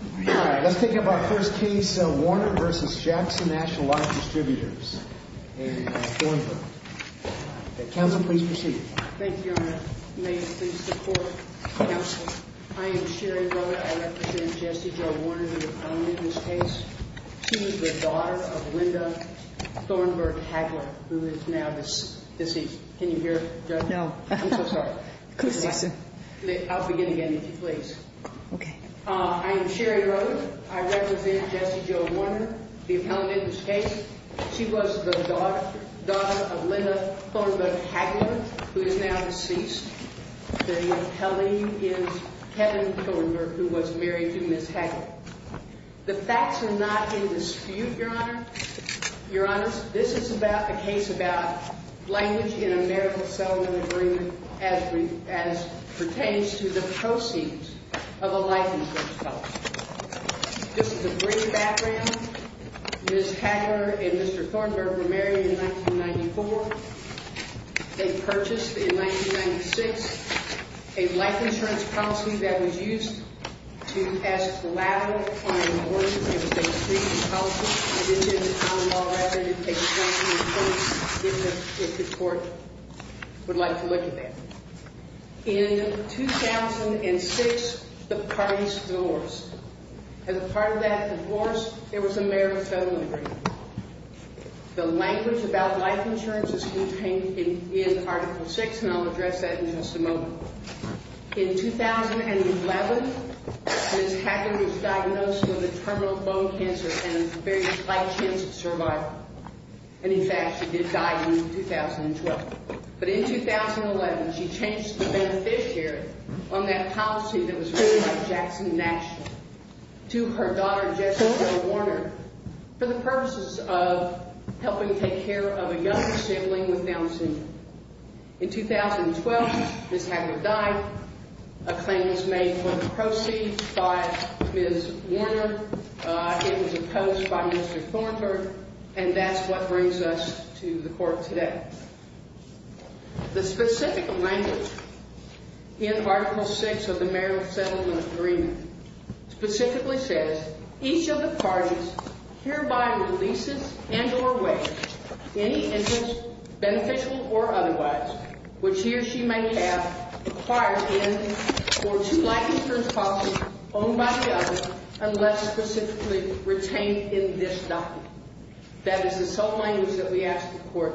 All right, let's take up our first case, Warner v. Jackson National Life Distributors in Thornburg. Counsel, please proceed. Thank you, Your Honor. May it please the Court, counsel. I am Sherry Rowe. I represent Jesse Joe Warner, the opponent in this case. She is the daughter of Linda Thornburg Hagler, who is now deceased. Can you hear, Judge? No. I'm so sorry. I'll begin again, if you please. Okay. I am Sherry Rowe. I represent Jesse Joe Warner, the opponent in this case. She was the daughter of Linda Thornburg Hagler, who is now deceased. The opponent is Kevin Thornburg, who was married to Ms. Hagler. The facts are not in dispute, Your Honor. Your Honor, this is about a case about language in a marital settlement agreement as pertains to the proceeds of a life insurance policy. This is a brief background. Ms. Hagler and Mr. Thornburg were married in 1994. They purchased, in 1996, a life insurance policy that was used to pass collateral on a divorce. It was a three-year policy. I didn't say the time of law. I said it was a 20-year policy, if the Court would like to look at that. In 2006, the parties divorced. As a part of that divorce, there was a marital settlement agreement. The language about life insurance is contained in Article VI, and I'll address that in just a moment. In 2011, Ms. Hagler was diagnosed with a terminal bone cancer and a very high chance of survival. And, in fact, she did die in 2012. But in 2011, she changed the beneficiary on that policy that was written by Jackson Nash to her daughter, Jessica Warner, for the purposes of helping take care of a younger sibling with Down syndrome. In 2012, Ms. Hagler died. A claim was made for the proceeds by Ms. Warner. It was opposed by Mr. Thornburg, and that's what brings us to the Court today. The specific language in Article VI of the marital settlement agreement specifically says, each of the parties hereby releases and or waives any interest, beneficial or otherwise, which he or she may have acquired in or to life insurance policy owned by the other, unless specifically retained in this document. That is the sole language that we ask the Court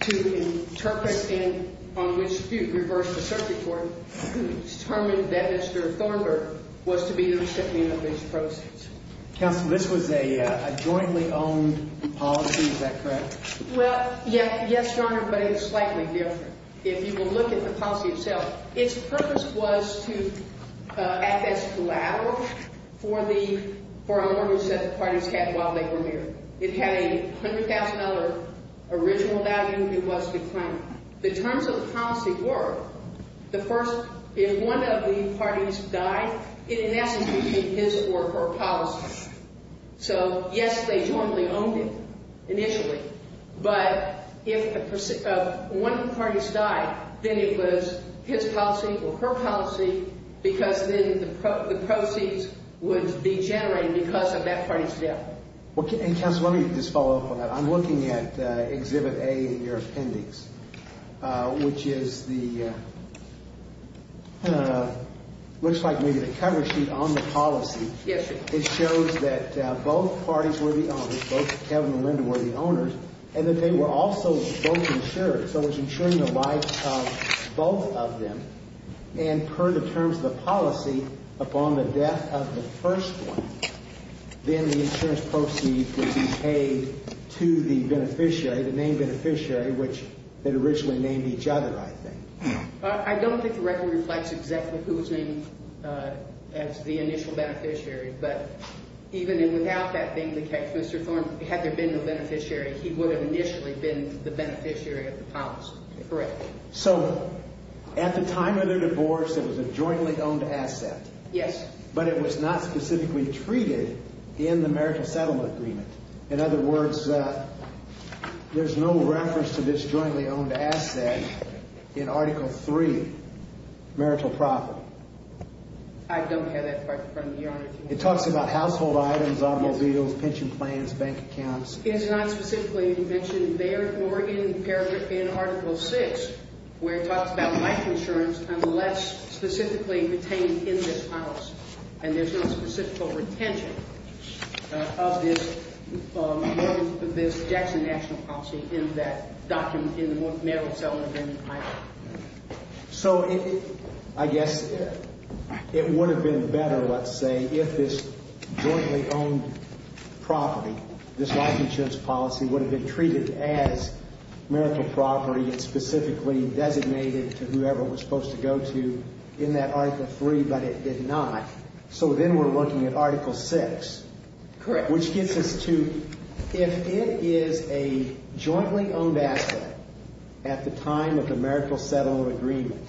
to interpret on which to reverse the circuit court to determine that Mr. Thornburg was to be the recipient of these proceeds. Counsel, this was a jointly owned policy, is that correct? Well, yes, Your Honor, but it was slightly different. If you will look at the policy itself, its purpose was to act as collateral for our mortgage that the parties had while they were here. It had a $100,000 original value. It was the claim. The terms of the policy were, the first, if one of the parties died, it in essence would be his or her policy. So, yes, they jointly owned it initially, but if one of the parties died, then it was his policy or her policy because then the proceeds would be generated because of that party's death. Counsel, let me just follow up on that. I'm looking at Exhibit A in your appendix, which is the, looks like maybe the cover sheet on the policy. Yes, Your Honor. It shows that both parties were the owners, both Kevin and Linda were the owners, and that they were also both insured, so it's insuring the lives of both of them. And per the terms of the policy, upon the death of the first one, then the insurance proceeds would be paid to the beneficiary, the named beneficiary, which they'd originally named each other, I think. I don't think the record reflects exactly who was named as the initial beneficiary, but even without that being the case, Mr. Thorne, had there been a beneficiary, he would have initially been the beneficiary of the policy. Correct. So, at the time of their divorce, it was a jointly owned asset. Yes. But it was not specifically treated in the marital settlement agreement. In other words, there's no reference to this jointly owned asset in Article III, marital property. I don't have that part in front of me, Your Honor. It talks about household items, automobiles, pension plans, bank accounts. It's not specifically mentioned there, nor in Article VI, where it talks about life insurance unless specifically retained in this house, and there's no specifical retention of this Jackson National Policy in that document, in the marital settlement agreement item. So, I guess it would have been better, let's say, if this jointly owned property, this life insurance policy, would have been treated as marital property and specifically designated to whoever it was supposed to go to in that Article III, but it did not. So then we're looking at Article VI. Correct. Which gets us to, if it is a jointly owned asset at the time of the marital settlement agreement,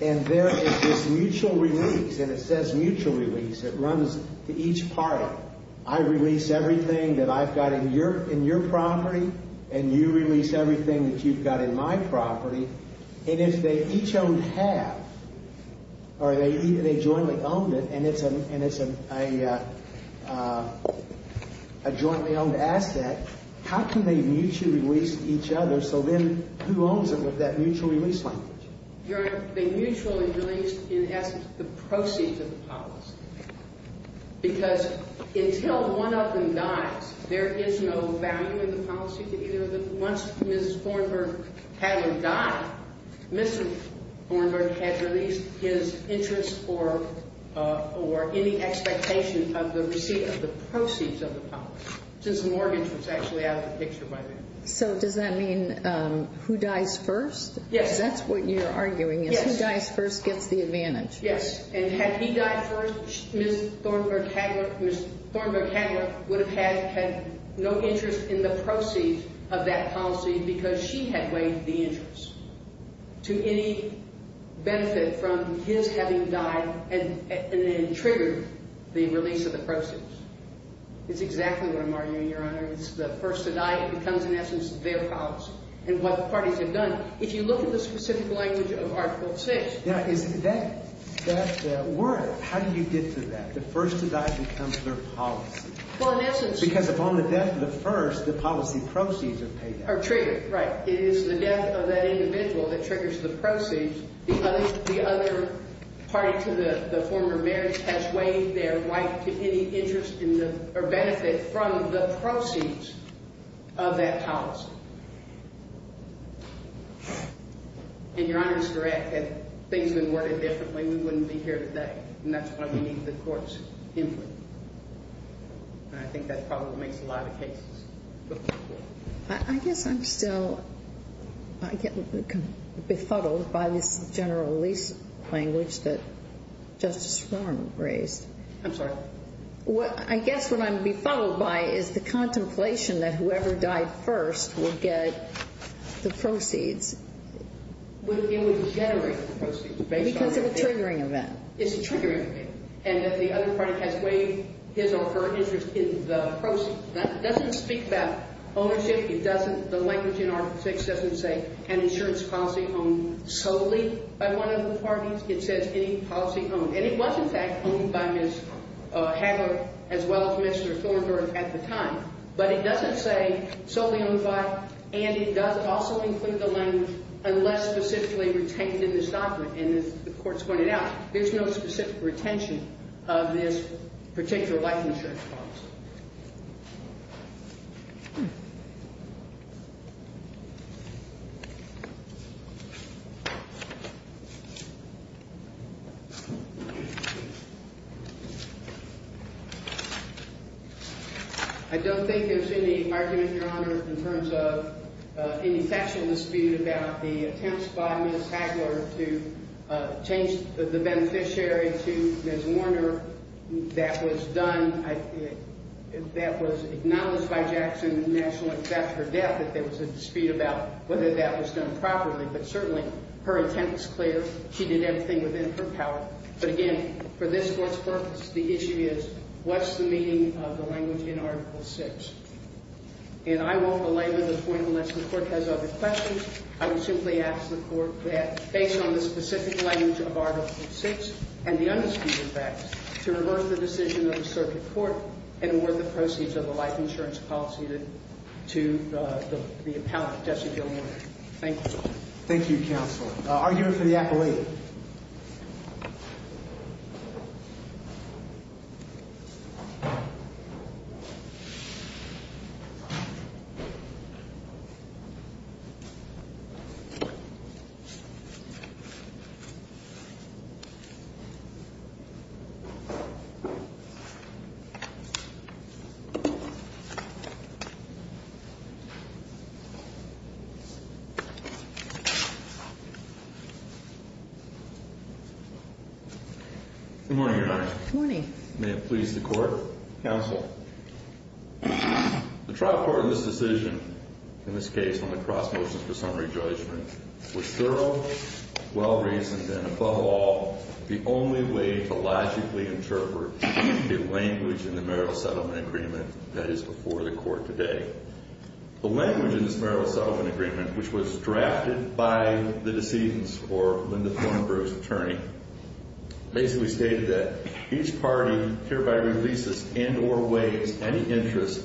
and there is this mutual release, and it says mutual release, it runs to each party. I release everything that I've got in your property, and you release everything that you've got in my property, and if they each own half, or they jointly owned it, and it's a jointly owned asset, how can they mutually release each other, so then who owns it with that mutual release language? Your Honor, they mutually release, in essence, the proceeds of the policy, because until one of them dies, there is no value in the policy to either of them. Once Ms. Thornburg-Hadler died, Mr. Thornburg had released his interest or any expectation of the receipt of the proceeds of the policy, since the mortgage was actually out of the picture by then. So does that mean who dies first? Yes. Because that's what you're arguing is who dies first gets the advantage. Yes, and had he died first, Ms. Thornburg-Hadler would have had no interest in the proceeds of that policy because she had waived the interest to any benefit from his having died and then triggered the release of the proceeds. It's exactly what I'm arguing, Your Honor. It's the first to die that becomes, in essence, their policy and what the parties have done. If you look at the specific language of Article VI… Yeah, is that word, how do you get to that? The first to die becomes their policy. Well, in essence… Because upon the death of the first, the policy proceeds are paid out. Are triggered, right. It is the death of that individual that triggers the proceeds. The other party to the former marriage has waived their right to any interest or benefit from the proceeds of that policy. And Your Honor is correct. Had things been worded differently, we wouldn't be here today, and that's why we need the Court's input. And I think that probably makes a lot of cases. I guess I'm still befuddled by this general release language that Justice Romer raised. I'm sorry? I guess what I'm befuddled by is the contemplation that whoever died first would get the proceeds. It would generate the proceeds based on… Because of a triggering event. It's a triggering event. And that the other party has waived his or her interest in the proceeds. That doesn't speak about ownership. It doesn't… The language in Article VI doesn't say an insurance policy owned solely by one of the parties. It says any policy owned. And it was, in fact, owned by Ms. Hagler as well as Mr. Thornburgh at the time. But it doesn't say solely owned by, and it does also include the language, unless specifically retained in this doctrine. And as the Court's pointed out, there's no specific retention of this particular licensure policy. I don't think there's any argument, Your Honor, in terms of any factual dispute about the attempts by Ms. Hagler to change the beneficiary to Ms. Warner. That was done. That was acknowledged by Jackson in the National Exams after her death that there was a dispute about whether that was done properly. But certainly, her intent was clear. She did everything within her power. But again, for this Court's purpose, the issue is, what's the meaning of the language in Article VI? And I won't belabor the point unless the Court has other questions. I would simply ask the Court that, based on the specific language of Article VI and the undisputed facts, to reverse the decision of the circuit court and award the proceeds of the life insurance policy to the appellant, Jesse Gilmore. Thank you. Thank you, Counsel. Argument for the appellate. Good morning, Your Honor. Good morning. May it please the Court. Counsel. The trial court in this decision, in this case on the cross-motion for summary judgment, was thorough, well-reasoned, and above all, the only way to logically interpret the language in the marital settlement agreement that is before the Court today. The language in this marital settlement agreement, which was drafted by the decedent's or Linda Thornbrook's attorney, basically stated that each party hereby releases in or waives any interest,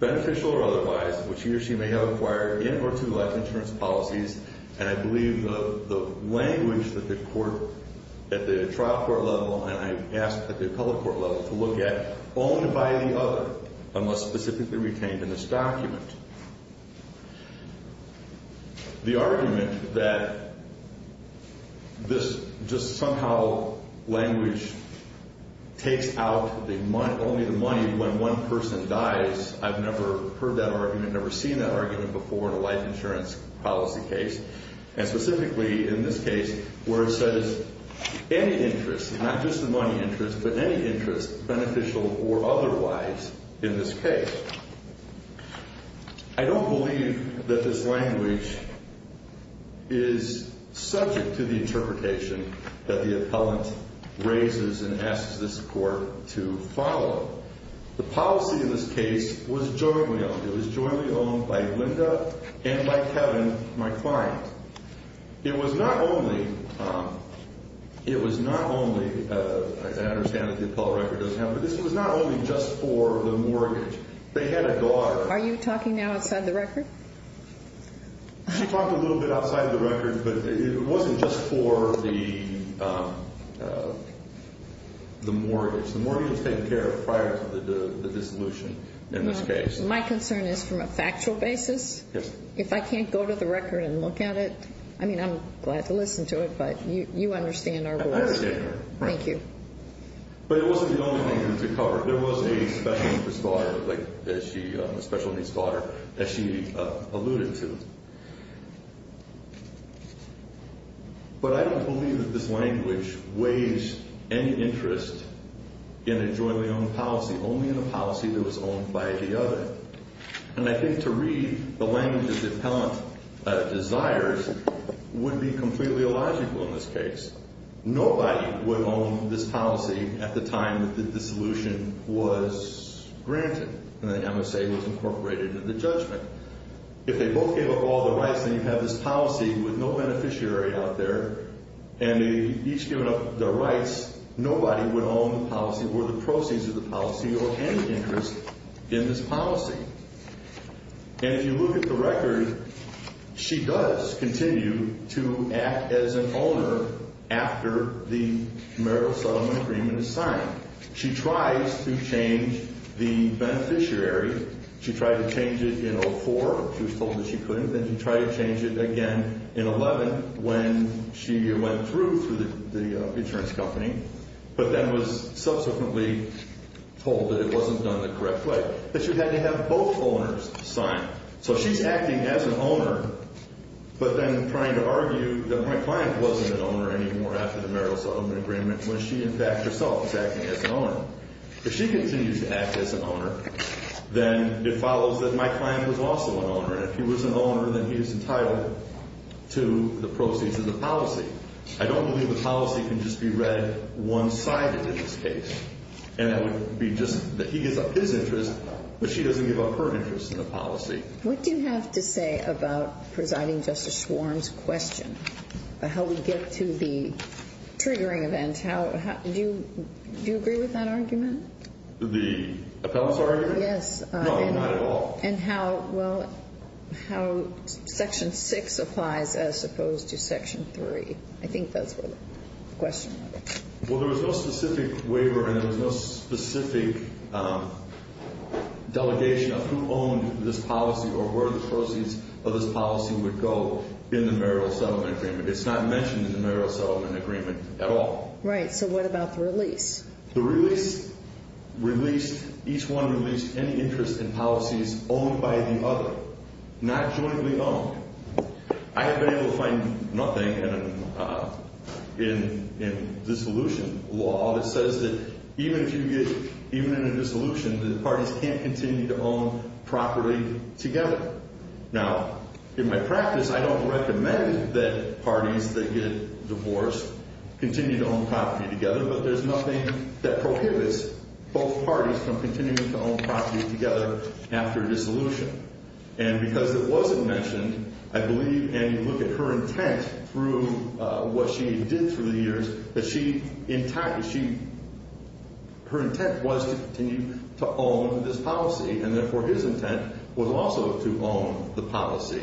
beneficial or otherwise, which he or she may have acquired in or to life insurance policies. And I believe the language that the trial court level and I've asked that the appellate court level to look at, only by the other, unless specifically retained in this document. The argument that this just somehow language takes out only the money when one person dies, I've never heard that argument, never seen that argument before in a life insurance policy case, and specifically in this case where it says any interest, not just the money interest, but any interest, beneficial or otherwise, in this case. I don't believe that this language is subject to the interpretation that the appellant raises and asks this court to follow. The policy in this case was jointly owned. It was jointly owned by Linda and by Kevin, my client. It was not only, it was not only, I understand that the appellate record doesn't have it, but this was not only just for the mortgage. They had a daughter. Are you talking now outside the record? She talked a little bit outside the record, but it wasn't just for the mortgage. The mortgage was taken care of prior to the dissolution in this case. My concern is from a factual basis. Yes. If I can't go to the record and look at it, I mean, I'm glad to listen to it, but you understand our rules. I understand. Thank you. But it wasn't the only thing to cover. There was a special needs daughter, like, a special needs daughter that she alluded to. But I don't believe that this language weighs any interest in a jointly owned policy, only in a policy that was owned by the other. And I think to read the language that the appellant desires would be completely illogical in this case. Nobody would own this policy at the time that the dissolution was granted and the MSA was incorporated into the judgment. If they both gave up all the rights, then you have this policy with no beneficiary out there. And they've each given up their rights. Nobody would own the policy or the proceeds of the policy or any interest in this policy. And if you look at the record, she does continue to act as an owner after the marital settlement agreement is signed. She tries to change the beneficiary. She tried to change it in 04. She was told that she couldn't. Then she tried to change it again in 11 when she went through through the insurance company, but then was subsequently told that it wasn't done the correct way. But she had to have both owners signed. So she's acting as an owner, but then trying to argue that my client wasn't an owner anymore after the marital settlement agreement when she, in fact, herself is acting as an owner. If she continues to act as an owner, then it follows that my client was also an owner. And if he was an owner, then he was entitled to the proceeds of the policy. I don't believe the policy can just be read one-sided in this case. And that would be just that he gives up his interest, but she doesn't give up her interest in the policy. What do you have to say about Presiding Justice Schwarm's question about how we get to the triggering event? Do you agree with that argument? The appellate's argument? Yes. No, not at all. And how Section 6 applies as opposed to Section 3. I think that's what the question was. Well, there was no specific waiver, and there was no specific delegation of who owned this policy or where the proceeds of this policy would go in the marital settlement agreement. It's not mentioned in the marital settlement agreement at all. Right. So what about the release? The release released, each one released any interest in policies owned by the other, not jointly owned. I have been able to find nothing in dissolution law that says that even in a dissolution, the parties can't continue to own property together. Now, in my practice, I don't recommend that parties that get divorced continue to own property together, but there's nothing that prohibits both parties from continuing to own property together after a dissolution. And because it wasn't mentioned, I believe, and you look at her intent through what she did through the years, that she, in fact, she, her intent was to continue to own this policy, and therefore his intent was also to own the policy.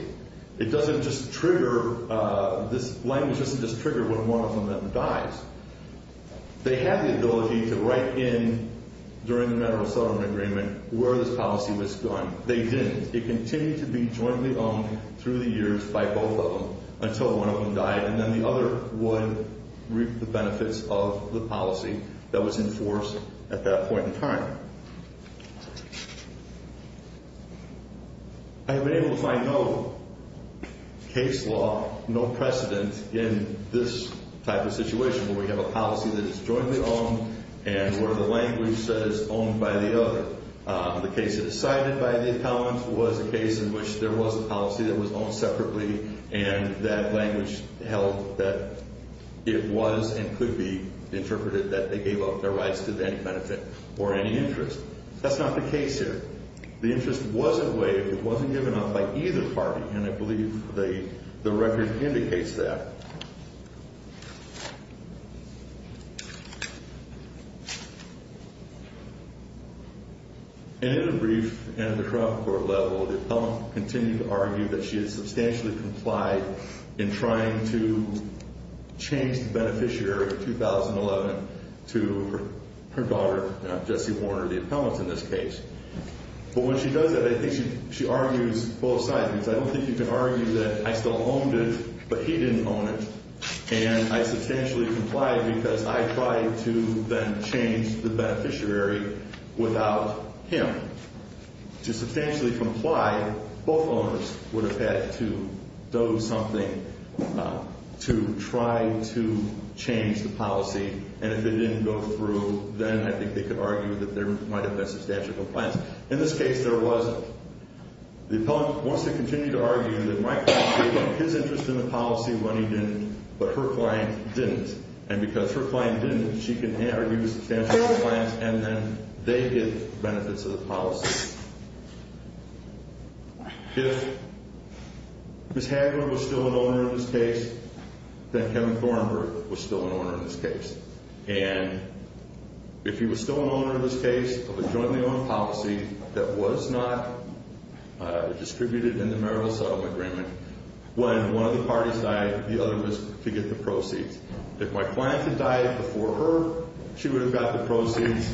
It doesn't just trigger, this language doesn't just trigger when one of them dies. They had the ability to write in during the marital settlement agreement where this policy was done. They didn't. It continued to be jointly owned through the years by both of them until one of them died, and then the other one reaped the benefits of the policy that was enforced at that point in time. I have been able to find no case law, no precedent in this type of situation where we have a policy that is jointly owned and where the language says owned by the other. The case that is cited by the accountants was a case in which there was a policy that was owned separately, and that language held that it was and could be interpreted that they gave up their rights to any benefit or any interest. That's not the case here. The interest wasn't waived. It wasn't given up by either party, and I believe the record indicates that. And in a brief, in the trial court level, the appellant continued to argue that she had substantially complied in trying to change the beneficiary of 2011 to her daughter, Jesse Warner, the appellant in this case. But when she does that, I think she argues both sides. I don't think you can argue that I still owned it, but he didn't own it, and I substantially complied because I tried to then change the beneficiary without him. To substantially comply, both owners would have had to do something to try to change the policy, and if it didn't go through, then I think they could argue that there might have been substantial compliance. In this case, there wasn't. The appellant wants to continue to argue that my client gave up his interest in the policy when he didn't, but her client didn't. And because her client didn't, she can argue substantially compliance, and then they get benefits of the policy. If Ms. Hagler was still an owner in this case, then Kevin Thornburg was still an owner in this case. And if he was still an owner in this case of a jointly owned policy that was not distributed in the marital settlement agreement, when one of the parties died, the other was to get the proceeds. If my client had died before her, she would have got the proceeds.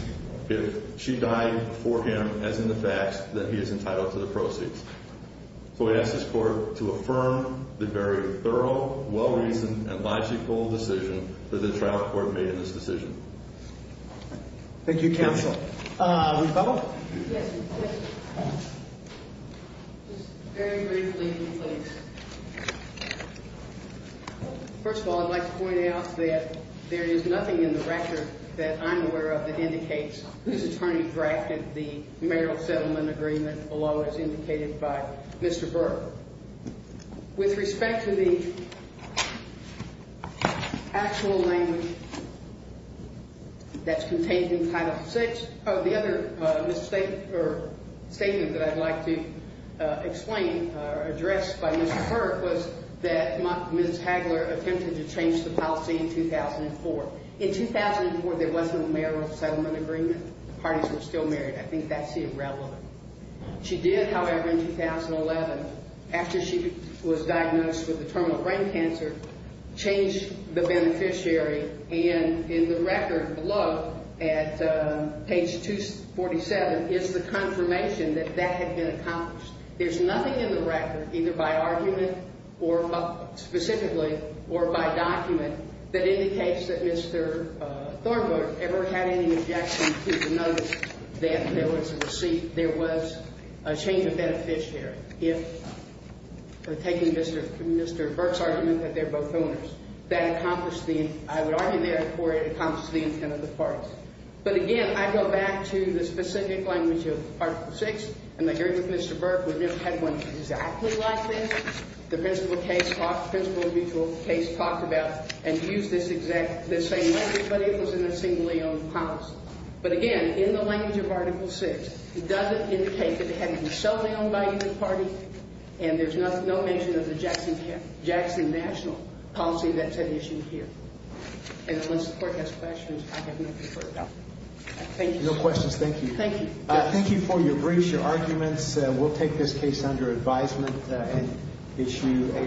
If she died before him, as in the facts, then he is entitled to the proceeds. So I ask this court to affirm the very thorough, well-reasoned, and logical decision that the trial court made in this decision. Thank you, counsel. Rebuttal? Yes, please. Just very briefly, please. First of all, I'd like to point out that there is nothing in the record that I'm aware of that indicates Ms. Harney drafted the marital settlement agreement along as indicated by Mr. Burke. With respect to the actual language that's contained in Title VI, the other statement that I'd like to explain or address by Mr. Burke was that Ms. Hagler attempted to change the policy in 2004. In 2004, there wasn't a marital settlement agreement. The parties were still married. I think that's irrelevant. She did, however, in 2011, after she was diagnosed with a terminal brain cancer, change the beneficiary. And in the record below at page 247 is the confirmation that that had been accomplished. There's nothing in the record either by argument or specifically or by document that indicates that Mr. Thornburg ever had any objection to the notice that there was a receipt, there was a change of beneficiary. If, taking Mr. Burke's argument that they're both owners, that accomplished the, I would argue therefore it accomplished the intent of the parties. But, again, I go back to the specific language of Article VI, and I agree with Mr. Burke. We've never had one exactly like this. The principal case talked, principal mutual case talked about and used this exact, this same language, but it was in a singly owned policy. But, again, in the language of Article VI, it doesn't indicate that it had to be solely owned by either party. And there's no mention of the Jackson National policy that's been issued here. And unless the court has questions, I have nothing further. Thank you. No questions. Thank you. Thank you. Thank you for your briefs, your arguments. We'll take this case under advisement and issue a ruling.